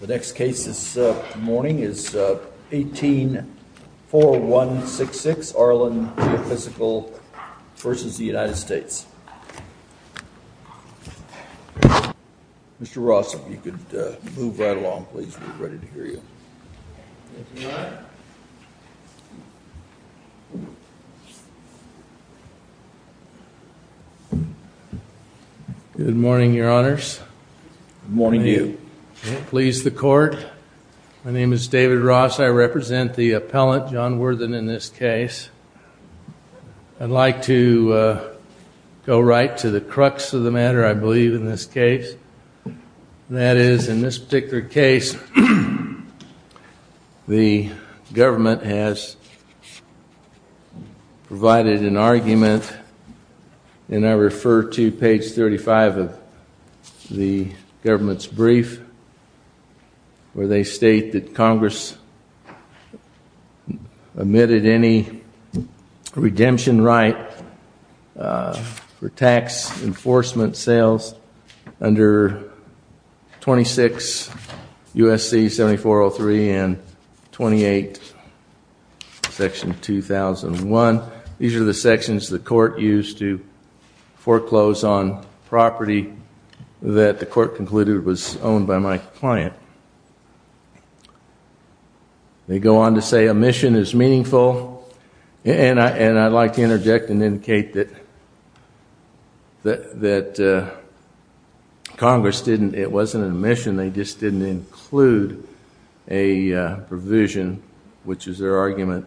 The next case this morning is 18-4166, Arlin Geophysical v. United States. Mr. Ross, if you could move right along, please. We're ready to hear you. Good morning, Your Honors. Good morning to you. Please, the Court. My name is David Ross. I represent the appellant, John Worthen, in this case. I'd like to go right to the crux of the matter, I believe, in this case. That is, in this particular case, the government has provided an argument, and I refer to page 35 of the government's brief, where they state that Congress omitted any redemption right for tax enforcement sales under 26 U.S.C. 7403 and 28 Section 2001. These are the sections the Court used to foreclose on property that the Court concluded was owned by my client. They go on to say omission is meaningful, and I'd like to interject and indicate that Congress didn't, it wasn't an omission, they just didn't include a provision, which is their argument,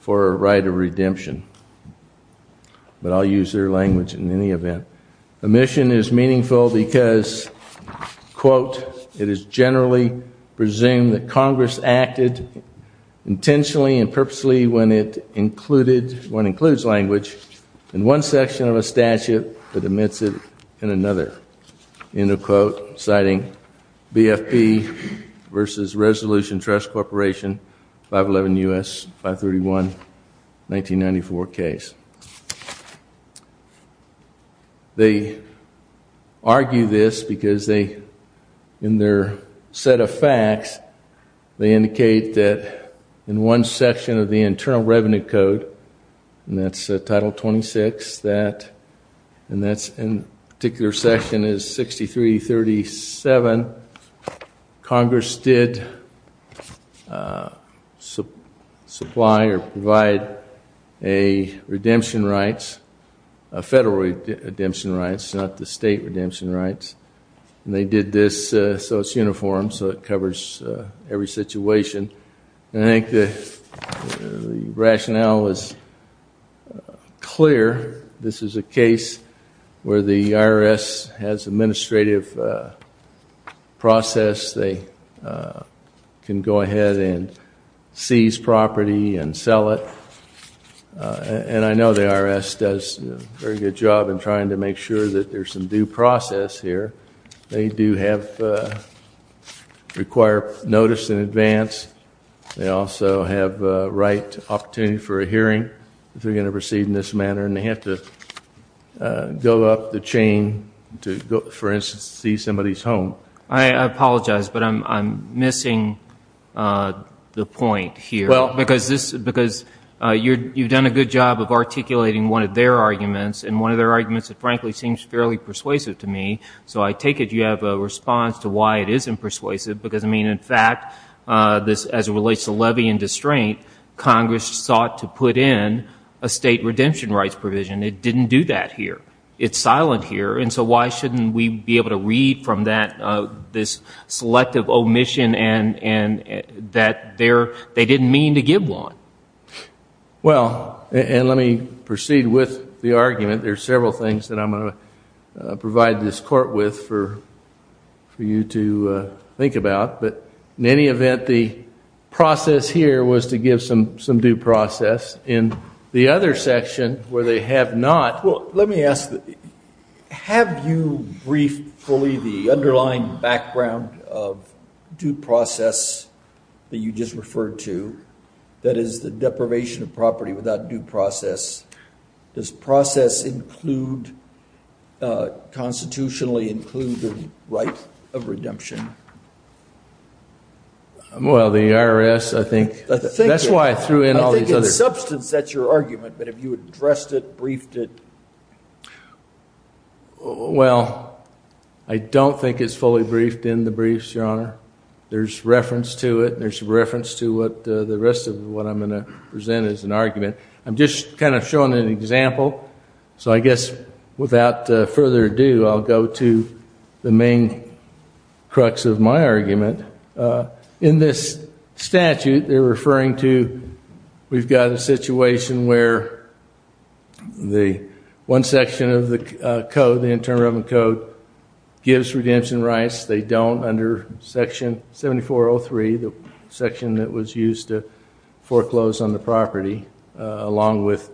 for a right of redemption. But I'll use their language in any event. Omission is meaningful because, quote, it is generally presumed that Congress acted intentionally and purposely when it included, when it includes language, in one section of a statute that omits it in another. End of quote. Citing BFP versus Resolution Trust Corporation, 511 U.S. 531, 1994 case. They argue this because they, in their set of facts, they indicate that in one section of the Internal Revenue Code, and that's Title 26, that, and that's in particular section is 6337, Congress did supply or provide a redemption rights, a federal redemption rights, not the state redemption rights, and they did this so it's uniform, so it covers every situation. And I think the rationale is clear. This is a case where the IRS has administrative process. They can go ahead and seize property and sell it. And I know the IRS does a very good job in trying to make sure that there's some due process here. They do have, require notice in advance. They also have right opportunity for a hearing if they're going to proceed in this manner. And they have to go up the chain to, for instance, seize somebody's home. I apologize, but I'm missing the point here. Well. Because this, because you've done a good job of articulating one of their arguments, and one of their arguments, frankly, seems fairly persuasive to me, so I take it you have a response to why it isn't persuasive, because, I mean, in fact, this, as it relates to levy and distraint, Congress sought to put in a state redemption rights provision. It didn't do that here. It's silent here. And so why shouldn't we be able to read from that, this selective omission and that they didn't mean to give one? Well, and let me proceed with the argument. There are several things that I'm going to provide this court with for you to think about. But in any event, the process here was to give some due process. In the other section, where they have not. Well, let me ask, have you briefed fully the underlying background of due process that you just referred to, that is the deprivation of property without due process? Does process include, constitutionally include the right of redemption? Well, the IRS, I think. That's why I threw in all these others. In substance, that's your argument. But have you addressed it, briefed it? Well, I don't think it's fully briefed in the briefs, Your Honor. There's reference to it. There's reference to the rest of what I'm going to present as an argument. I'm just kind of showing an example. So I guess without further ado, I'll go to the main crux of my argument. In this statute, they're referring to we've got a situation where one section of the code, the Internal Revenue Code, gives redemption rights. They don't under Section 7403, the section that was used to foreclose on the property, along with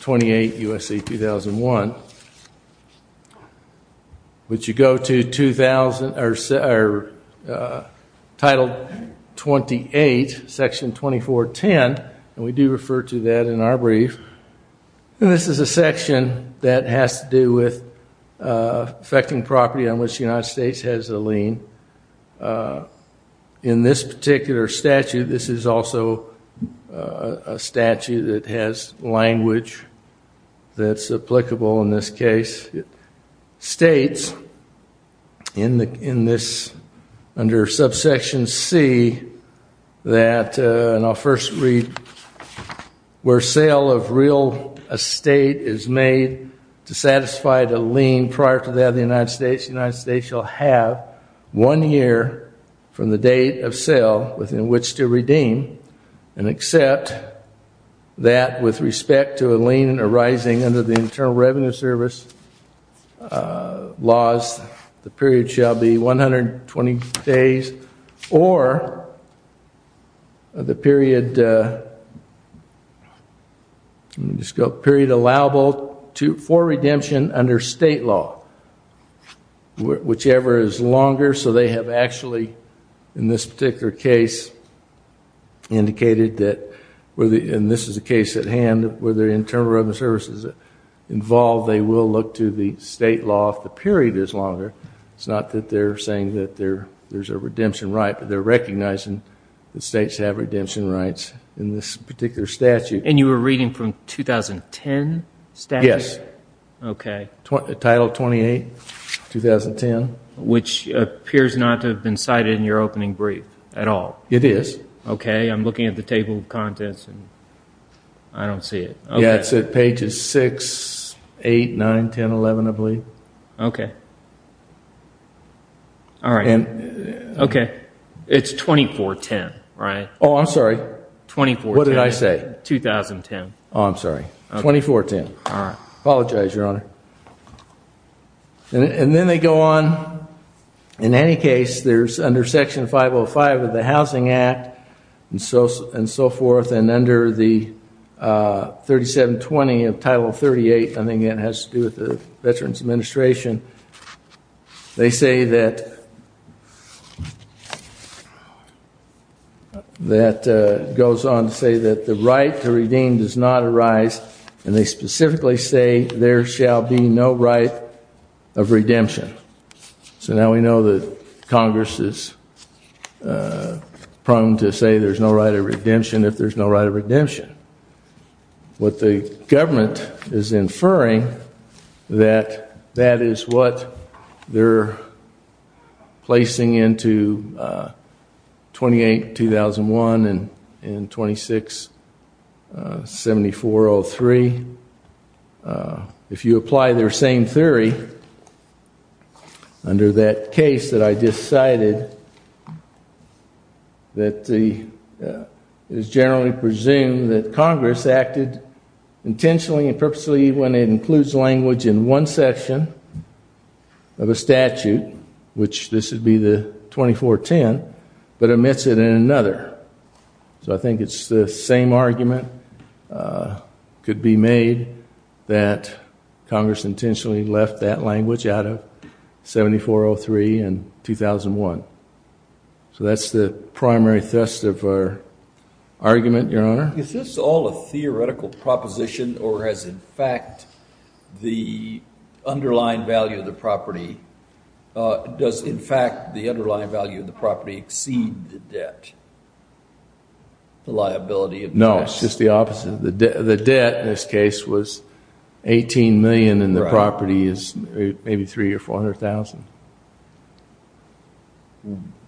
28 U.S.C. 2001. But you go to Title 28, Section 2410, and we do refer to that in our brief. And this is a section that has to do with affecting property on which the United States has a lien. In this particular statute, this is also a statute that has language that's applicable in this case. It states in this under Subsection C that, and I'll first read, where sale of real estate is made to satisfy the lien prior to that of the United States, the United States shall have one year from the date of sale within which to redeem and accept that with respect to a lien arising under the Internal Revenue Service laws, the period shall be 120 days or the period allowable for redemption under state law, whichever is longer. So they have actually, in this particular case, indicated that, and this is a case at hand, where the Internal Revenue Service is involved, they will look to the state law if the period is longer. It's not that they're saying that there's a redemption right, but they're recognizing that states have redemption rights in this particular statute. And you were reading from 2010 statute? Yes. Okay. Title 28, 2010. Which appears not to have been cited in your opening brief at all. It is. Okay, I'm looking at the table of contents and I don't see it. Yeah, it's at pages 6, 8, 9, 10, 11, I believe. Okay. All right. Okay. It's 2410, right? Oh, I'm sorry. 2410. What did I say? 2010. Oh, I'm sorry. 2410. All right. Apologize, Your Honor. And then they go on, in any case, there's under Section 505 of the Housing Act and so forth, and under the 3720 of Title 38, I think it has to do with the Veterans Administration, they say that, that goes on to say that the right to redeem does not arise, and they specifically say there shall be no right of redemption. So now we know that Congress is prone to say there's no right of redemption if there's no right of redemption. What the government is inferring, that that is what they're placing into 28-2001 and 26-7403. If you apply their same theory under that case that I just cited, that it is generally presumed that Congress acted intentionally and purposely when it includes language in one section of a statute, which this would be the 2410, but omits it in another. So I think it's the same argument could be made, that Congress intentionally left that language out of 7403 and 2001. So that's the primary thrust of our argument, Your Honor. Is this all a theoretical proposition or has, in fact, the underlying value of the property, does, in fact, the underlying value of the property exceed the debt, the liability of the tax? No, it's just the opposite. The debt in this case was $18 million and the property is maybe $300,000 or $400,000.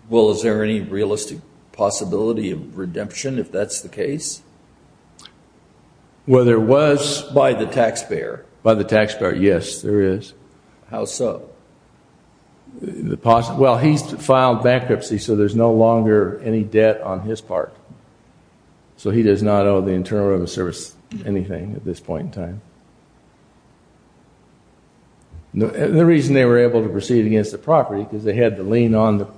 Well, is there any realistic possibility of redemption if that's the case? Well, there was. By the taxpayer. By the taxpayer, yes, there is. How so? Well, he's filed bankruptcy, so there's no longer any debt on his part. So he does not owe the Internal Revenue Service anything at this point in time. The reason they were able to proceed against the property is they had the lien on the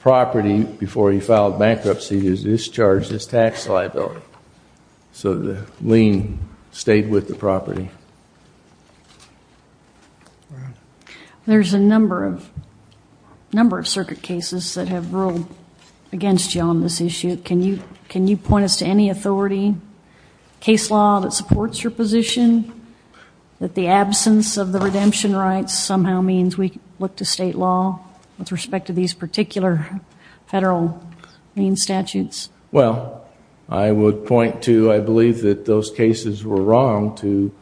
property before he filed bankruptcy to discharge his tax liability. So the lien stayed with the property. There's a number of circuit cases that have ruled against you on this issue. Can you point us to any authority, case law, that supports your position that the absence of the redemption rights somehow means we look to state law with respect to these particular federal lien statutes? Well, I would point to I believe that those cases were wrong to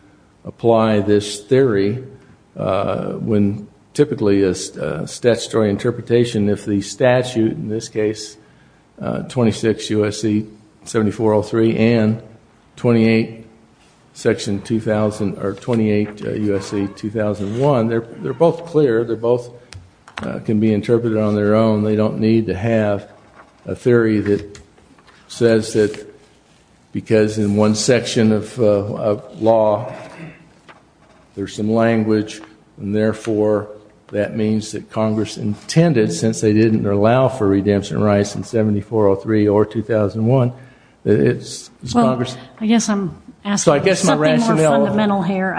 apply this theory when typically a statutory interpretation, if the statute in this case, 26 U.S.C. 7403 and 28 U.S.C. 2001, they're both clear. They both can be interpreted on their own. They don't need to have a theory that says that because in one section of law there's some language and therefore that means that Congress intended, since they didn't allow for redemption rights in 7403 or 2001, that it's Congress. Well, I guess I'm asking something more fundamental here.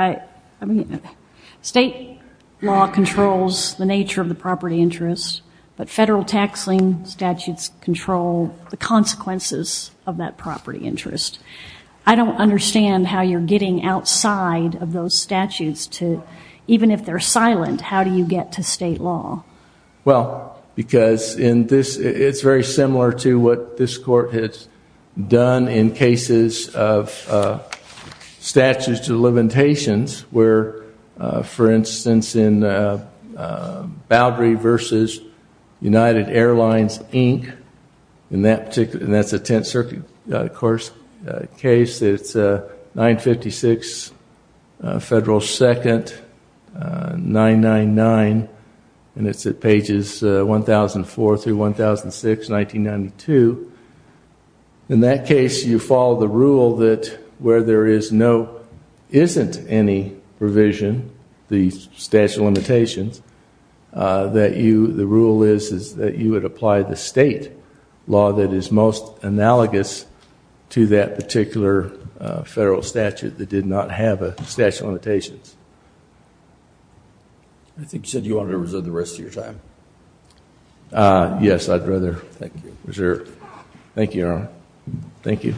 State law controls the nature of the property interest, but federal tax lien statutes control the consequences of that property interest. I don't understand how you're getting outside of those statutes to, even if they're silent, how do you get to state law? Well, because it's very similar to what this Court has done in cases of statutes to limitations where, for instance, in Boundary v. United Airlines, Inc., and that's a Tenth Circuit case, it's 956 Federal 2nd 999, and it's at pages 1004 through 1006, 1992. In that case, you follow the rule that where there isn't any provision, the statute of limitations, the rule is that you would apply the state law that is most analogous to that particular federal statute that did not have a statute of limitations. I think you said you wanted to reserve the rest of your time. Yes, I'd rather reserve. Thank you, Your Honor. Thank you.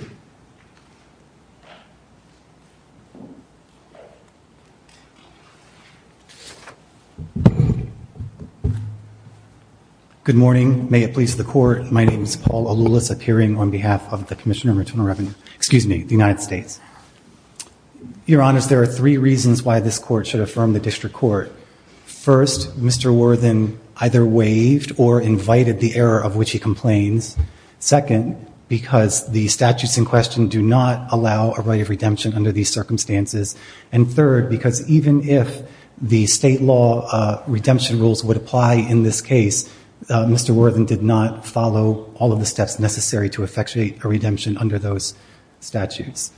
Good morning. May it please the Court, my name is Paul Aloulis, appearing on behalf of the Commissioner for Internal Revenue, excuse me, the United States. Your Honor, there are three reasons why this Court should affirm the District Court. First, Mr. Worthen either waived or invited the error of which he complains. Second, because the statutes in question do not allow a right of redemption under these circumstances. And third, because even if the state law redemption rules would apply in this case, Mr. Worthen did not follow all of the steps necessary to effectuate a redemption under those statutes.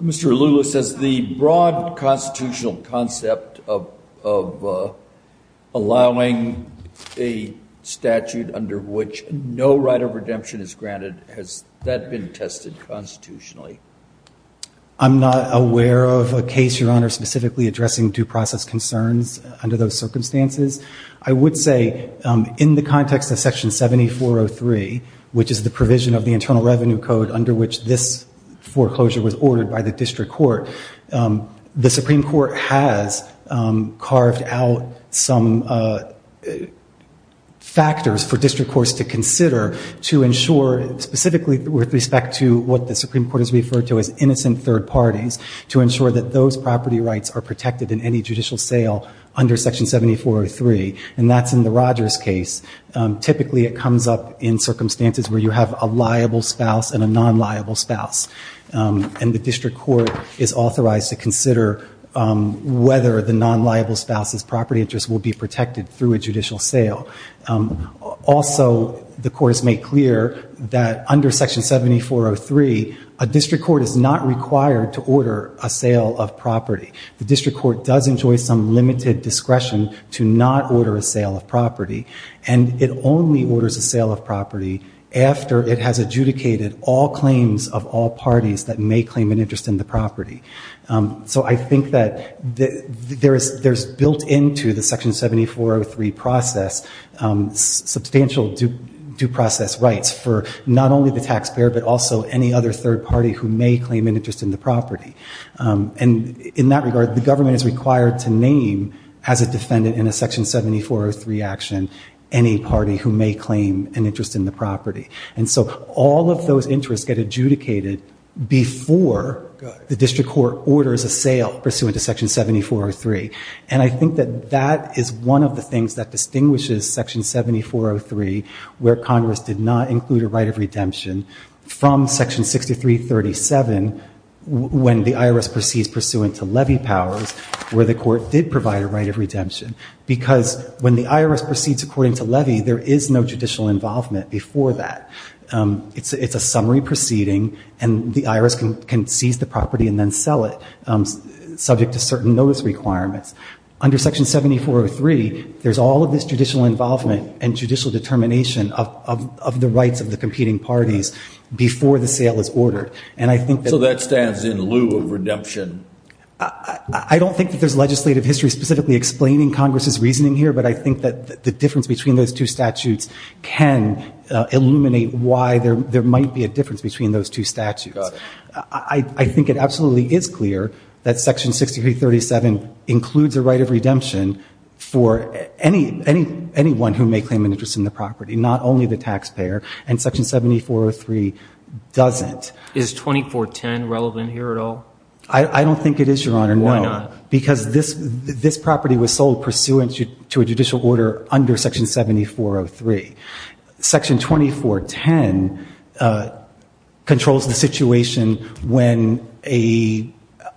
Mr. Aloulis, as the broad constitutional concept of allowing a statute under which no right of redemption is granted, has that been tested constitutionally? I'm not aware of a case, Your Honor, specifically addressing due process concerns under those circumstances. I would say in the context of Section 7403, which is the provision of the Internal Revenue Code under which this foreclosure was ordered by the District Court, the Supreme Court has carved out some factors for District Courts to consider to ensure, specifically with respect to what the Supreme Court has referred to as innocent third parties, to ensure that those property rights are protected in any judicial sale under Section 7403. And that's in the Rogers case. Typically, it comes up in circumstances where you have a liable spouse and a non-liable spouse. And the District Court is authorized to consider whether the non-liable spouse's property interests will be protected through a judicial sale. Also, the Court has made clear that under Section 7403, a District Court is not required to order a sale of property. The District Court does enjoy some limited discretion to not order a sale of property, and it only orders a sale of property after it has adjudicated all claims of all parties that may claim an interest in the property. So I think that there's built into the Section 7403 process substantial due process rights for not only the taxpayer but also any other third party who may claim an interest in the property. And in that regard, the government is required to name, as a defendant in a Section 7403 action, any party who may claim an interest in the property. And so all of those interests get adjudicated before the District Court orders a sale pursuant to Section 7403. And I think that that is one of the things that distinguishes Section 7403, where Congress did not include a right of redemption, from Section 6337, when the IRS proceeds pursuant to levy powers, where the court did provide a right of redemption. Because when the IRS proceeds according to levy, there is no judicial involvement before that. It's a summary proceeding, and the IRS can seize the property and then sell it, subject to certain notice requirements. Under Section 7403, there's all of this judicial involvement and judicial determination of the rights of the competing parties before the sale is ordered. So that stands in lieu of redemption? I don't think that there's legislative history specifically explaining Congress's reasoning here, but I think that the difference between those two statutes can illuminate why there might be a difference between those two statutes. Got it. I think it absolutely is clear that Section 6337 includes a right of redemption for anyone who may claim an interest in the property, not only the taxpayer. And Section 7403 doesn't. Is 2410 relevant here at all? I don't think it is, Your Honor. Why not? Because this property was sold pursuant to a judicial order under Section 7403. Section 2410 controls the situation when a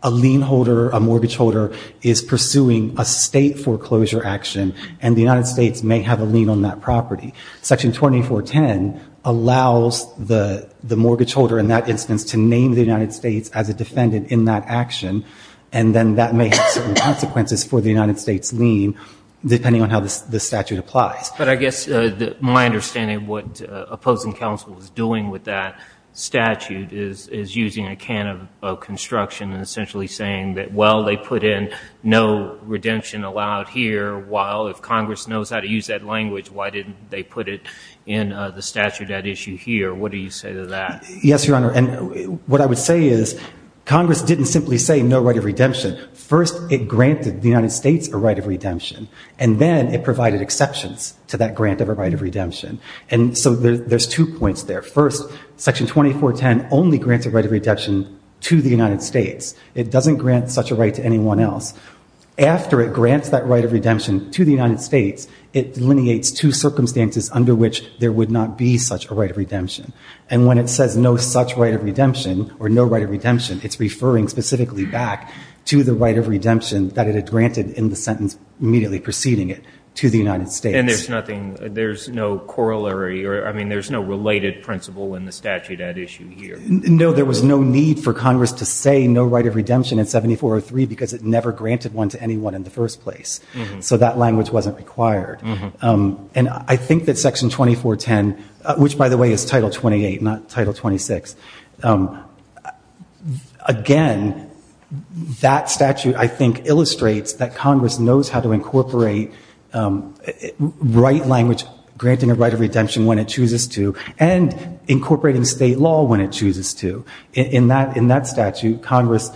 lien holder, a mortgage holder, is pursuing a state foreclosure action, and the United States may have a lien on that property. Section 2410 allows the mortgage holder, in that instance, to name the United States as a defendant in that action, and then that may have certain consequences for the United States' lien, depending on how the statute applies. But I guess my understanding of what opposing counsel is doing with that statute is using a can of construction and essentially saying that, well, they put in no redemption allowed here, while if Congress knows how to use that language, why didn't they put it in the statute at issue here? What do you say to that? Yes, Your Honor, and what I would say is Congress didn't simply say no right of redemption. First, it granted the United States a right of redemption, and then it provided exceptions to that grant of a right of redemption. And so there's two points there. First, Section 2410 only grants a right of redemption to the United States. It doesn't grant such a right to anyone else. After it grants that right of redemption to the United States, it delineates two circumstances under which there would not be such a right of redemption. And when it says no such right of redemption or no right of redemption, it's referring specifically back to the right of redemption that it had granted in the sentence immediately preceding it to the United States. And there's nothing, there's no corollary, or, I mean, there's no related principle in the statute at issue here. No, there was no need for Congress to say no right of redemption in 7403 because it never granted one to anyone in the first place. So that language wasn't required. And I think that Section 2410, which, by the way, is Title 28, not Title 26, again, that statute, I think, illustrates that Congress knows how to incorporate right language granting a right of redemption when it chooses to and incorporating state law when it chooses to. In that statute, Congress,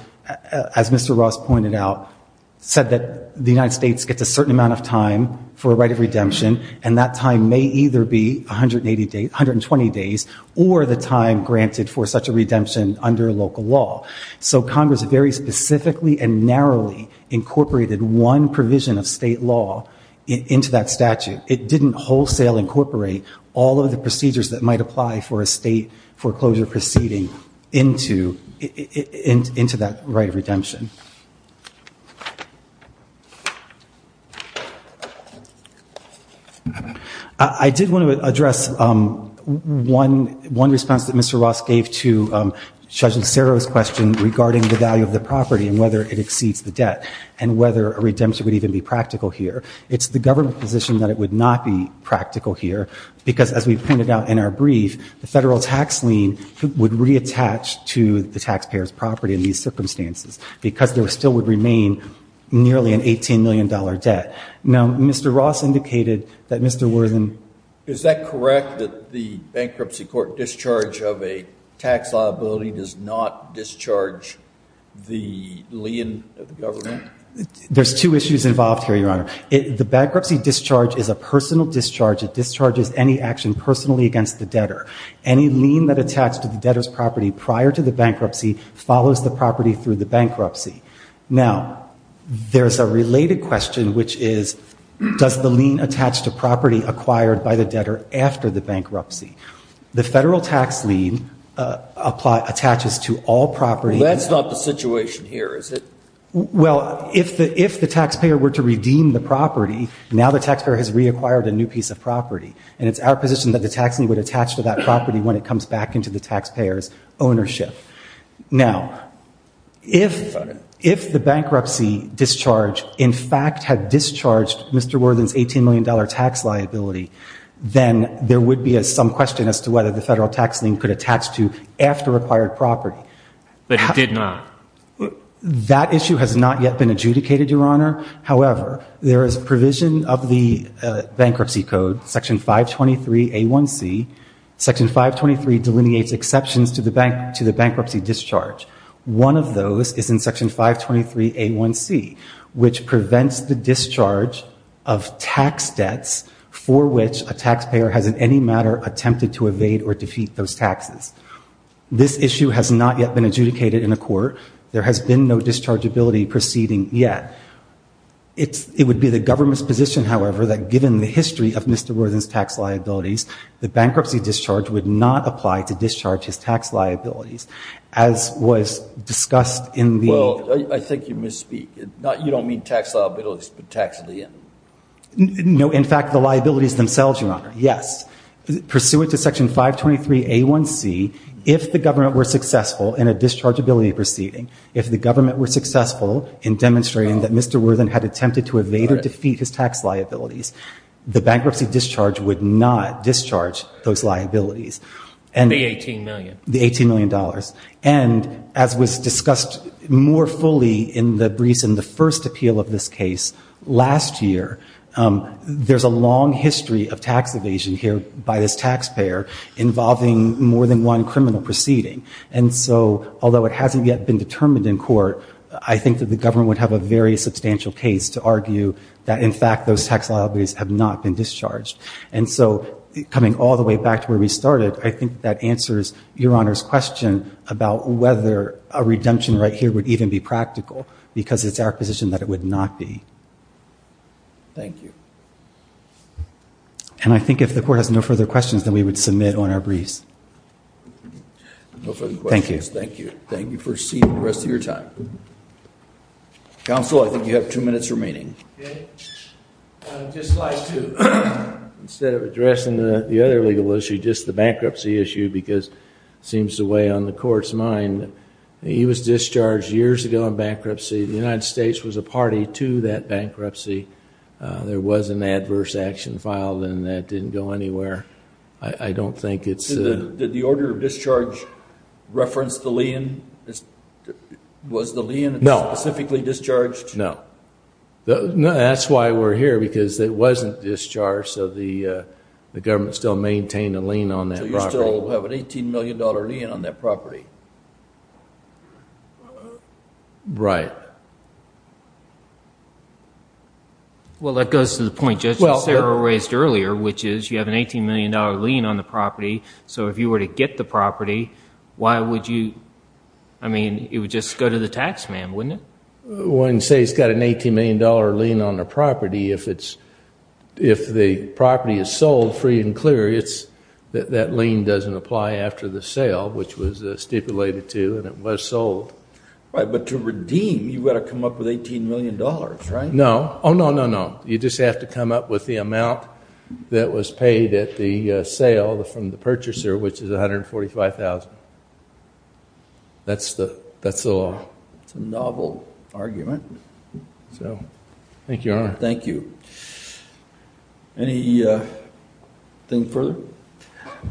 as Mr. Ross pointed out, said that the United States gets a certain amount of time for a right of redemption, and that time may either be 120 days or the time granted for such a redemption under local law. So Congress very specifically and narrowly incorporated one provision of state law into that statute. It didn't wholesale incorporate all of the procedures that might apply for a state foreclosure proceeding into that right of redemption. I did want to address one response that Mr. Ross gave to Judge Acero's question regarding the value of the property and whether it exceeds the debt and whether a redemption would even be practical here. It's the government position that it would not be practical here because, as we've pointed out in our brief, the federal tax lien would reattach to the taxpayer's property in these circumstances because there still would remain nearly an $18 million debt. Now, Mr. Ross indicated that Mr. Worthen... Is that correct that the bankruptcy court discharge of a tax liability does not discharge the lien of the government? There's two issues involved here, Your Honor. The bankruptcy discharge is a personal discharge. It discharges any action personally against the debtor. Any lien that attach to the debtor's property prior to the bankruptcy follows the property through the bankruptcy. Now, there's a related question, which is, does the lien attach to property acquired by the debtor after the bankruptcy? The federal tax lien attaches to all property... That's not the situation here, is it? Well, if the taxpayer were to redeem the property, now the taxpayer has reacquired a new piece of property, and it's our position that the tax lien would attach to that property when it comes back into the taxpayer's ownership. Now, if the bankruptcy discharge, in fact, had discharged Mr. Worthen's $18 million tax liability, then there would be some question as to whether the federal tax lien could attach to after-acquired property. But it did not. That issue has not yet been adjudicated, Your Honor. However, there is provision of the bankruptcy code, Section 523A1C. Section 523 delineates exceptions to the bankruptcy discharge. One of those is in Section 523A1C, which prevents the discharge of tax debts for which a taxpayer has in any matter attempted to evade or defeat those taxes. This issue has not yet been adjudicated in a court. There has been no dischargeability proceeding yet. It would be the government's position, however, that given the history of Mr. Worthen's tax liabilities, the bankruptcy discharge would not apply to discharge his tax liabilities, as was discussed in the... You don't mean tax liabilities, but tax lien. No, in fact, the liabilities themselves, Your Honor, yes. Pursuant to Section 523A1C, if the government were successful in a dischargeability proceeding, if the government were successful in demonstrating that Mr. Worthen had attempted to evade or defeat his tax liabilities, the bankruptcy discharge would not discharge those liabilities. The $18 million. The $18 million. And as was discussed more fully in the briefs in the first appeal of this case last year, there's a long history of tax evasion here by this taxpayer involving more than one criminal proceeding. And so, although it hasn't yet been determined in court, I think that the government would have a very substantial case to argue that, in fact, those tax liabilities have not been discharged. And so, coming all the way back to where we started, I think that answers Your Honor's question about whether a redemption right here would even be practical because it's our position that it would not be. Thank you. And I think if the court has no further questions, then we would submit on our briefs. No further questions. Thank you. Thank you. First seat for the rest of your time. Counsel, I think you have two minutes remaining. Okay. Just slide two. Instead of addressing the other legal issue, just the bankruptcy issue because it seems to weigh on the court's mind. He was discharged years ago in bankruptcy. The United States was a party to that bankruptcy. There was an adverse action filed, and that didn't go anywhere. I don't think it's a... Did the order of discharge reference the lien? Was the lien specifically discharged? No. That's why we're here because it wasn't discharged, so the government still maintained a lien on that property. So you still have an $18 million lien on that property. Right. Well, that goes to the point Judge Cicero raised earlier, which is you have an $18 million lien on the property, so if you were to get the property, why would you... I mean, it would just go to the tax man, wouldn't it? Well, when you say it's got an $18 million lien on the property, if the property is sold free and clear, that lien doesn't apply after the sale, which was stipulated to, and it was sold. Right, but to redeem, you've got to come up with $18 million, right? No. Oh, no, no, no. You just have to come up with the amount that was paid at the sale from the purchaser, which is $145,000. That's the law. That's a novel argument. Thank you, Your Honor. Thank you. Anything further?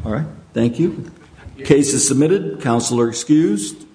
All right, thank you. Case is submitted. Counsel are excused.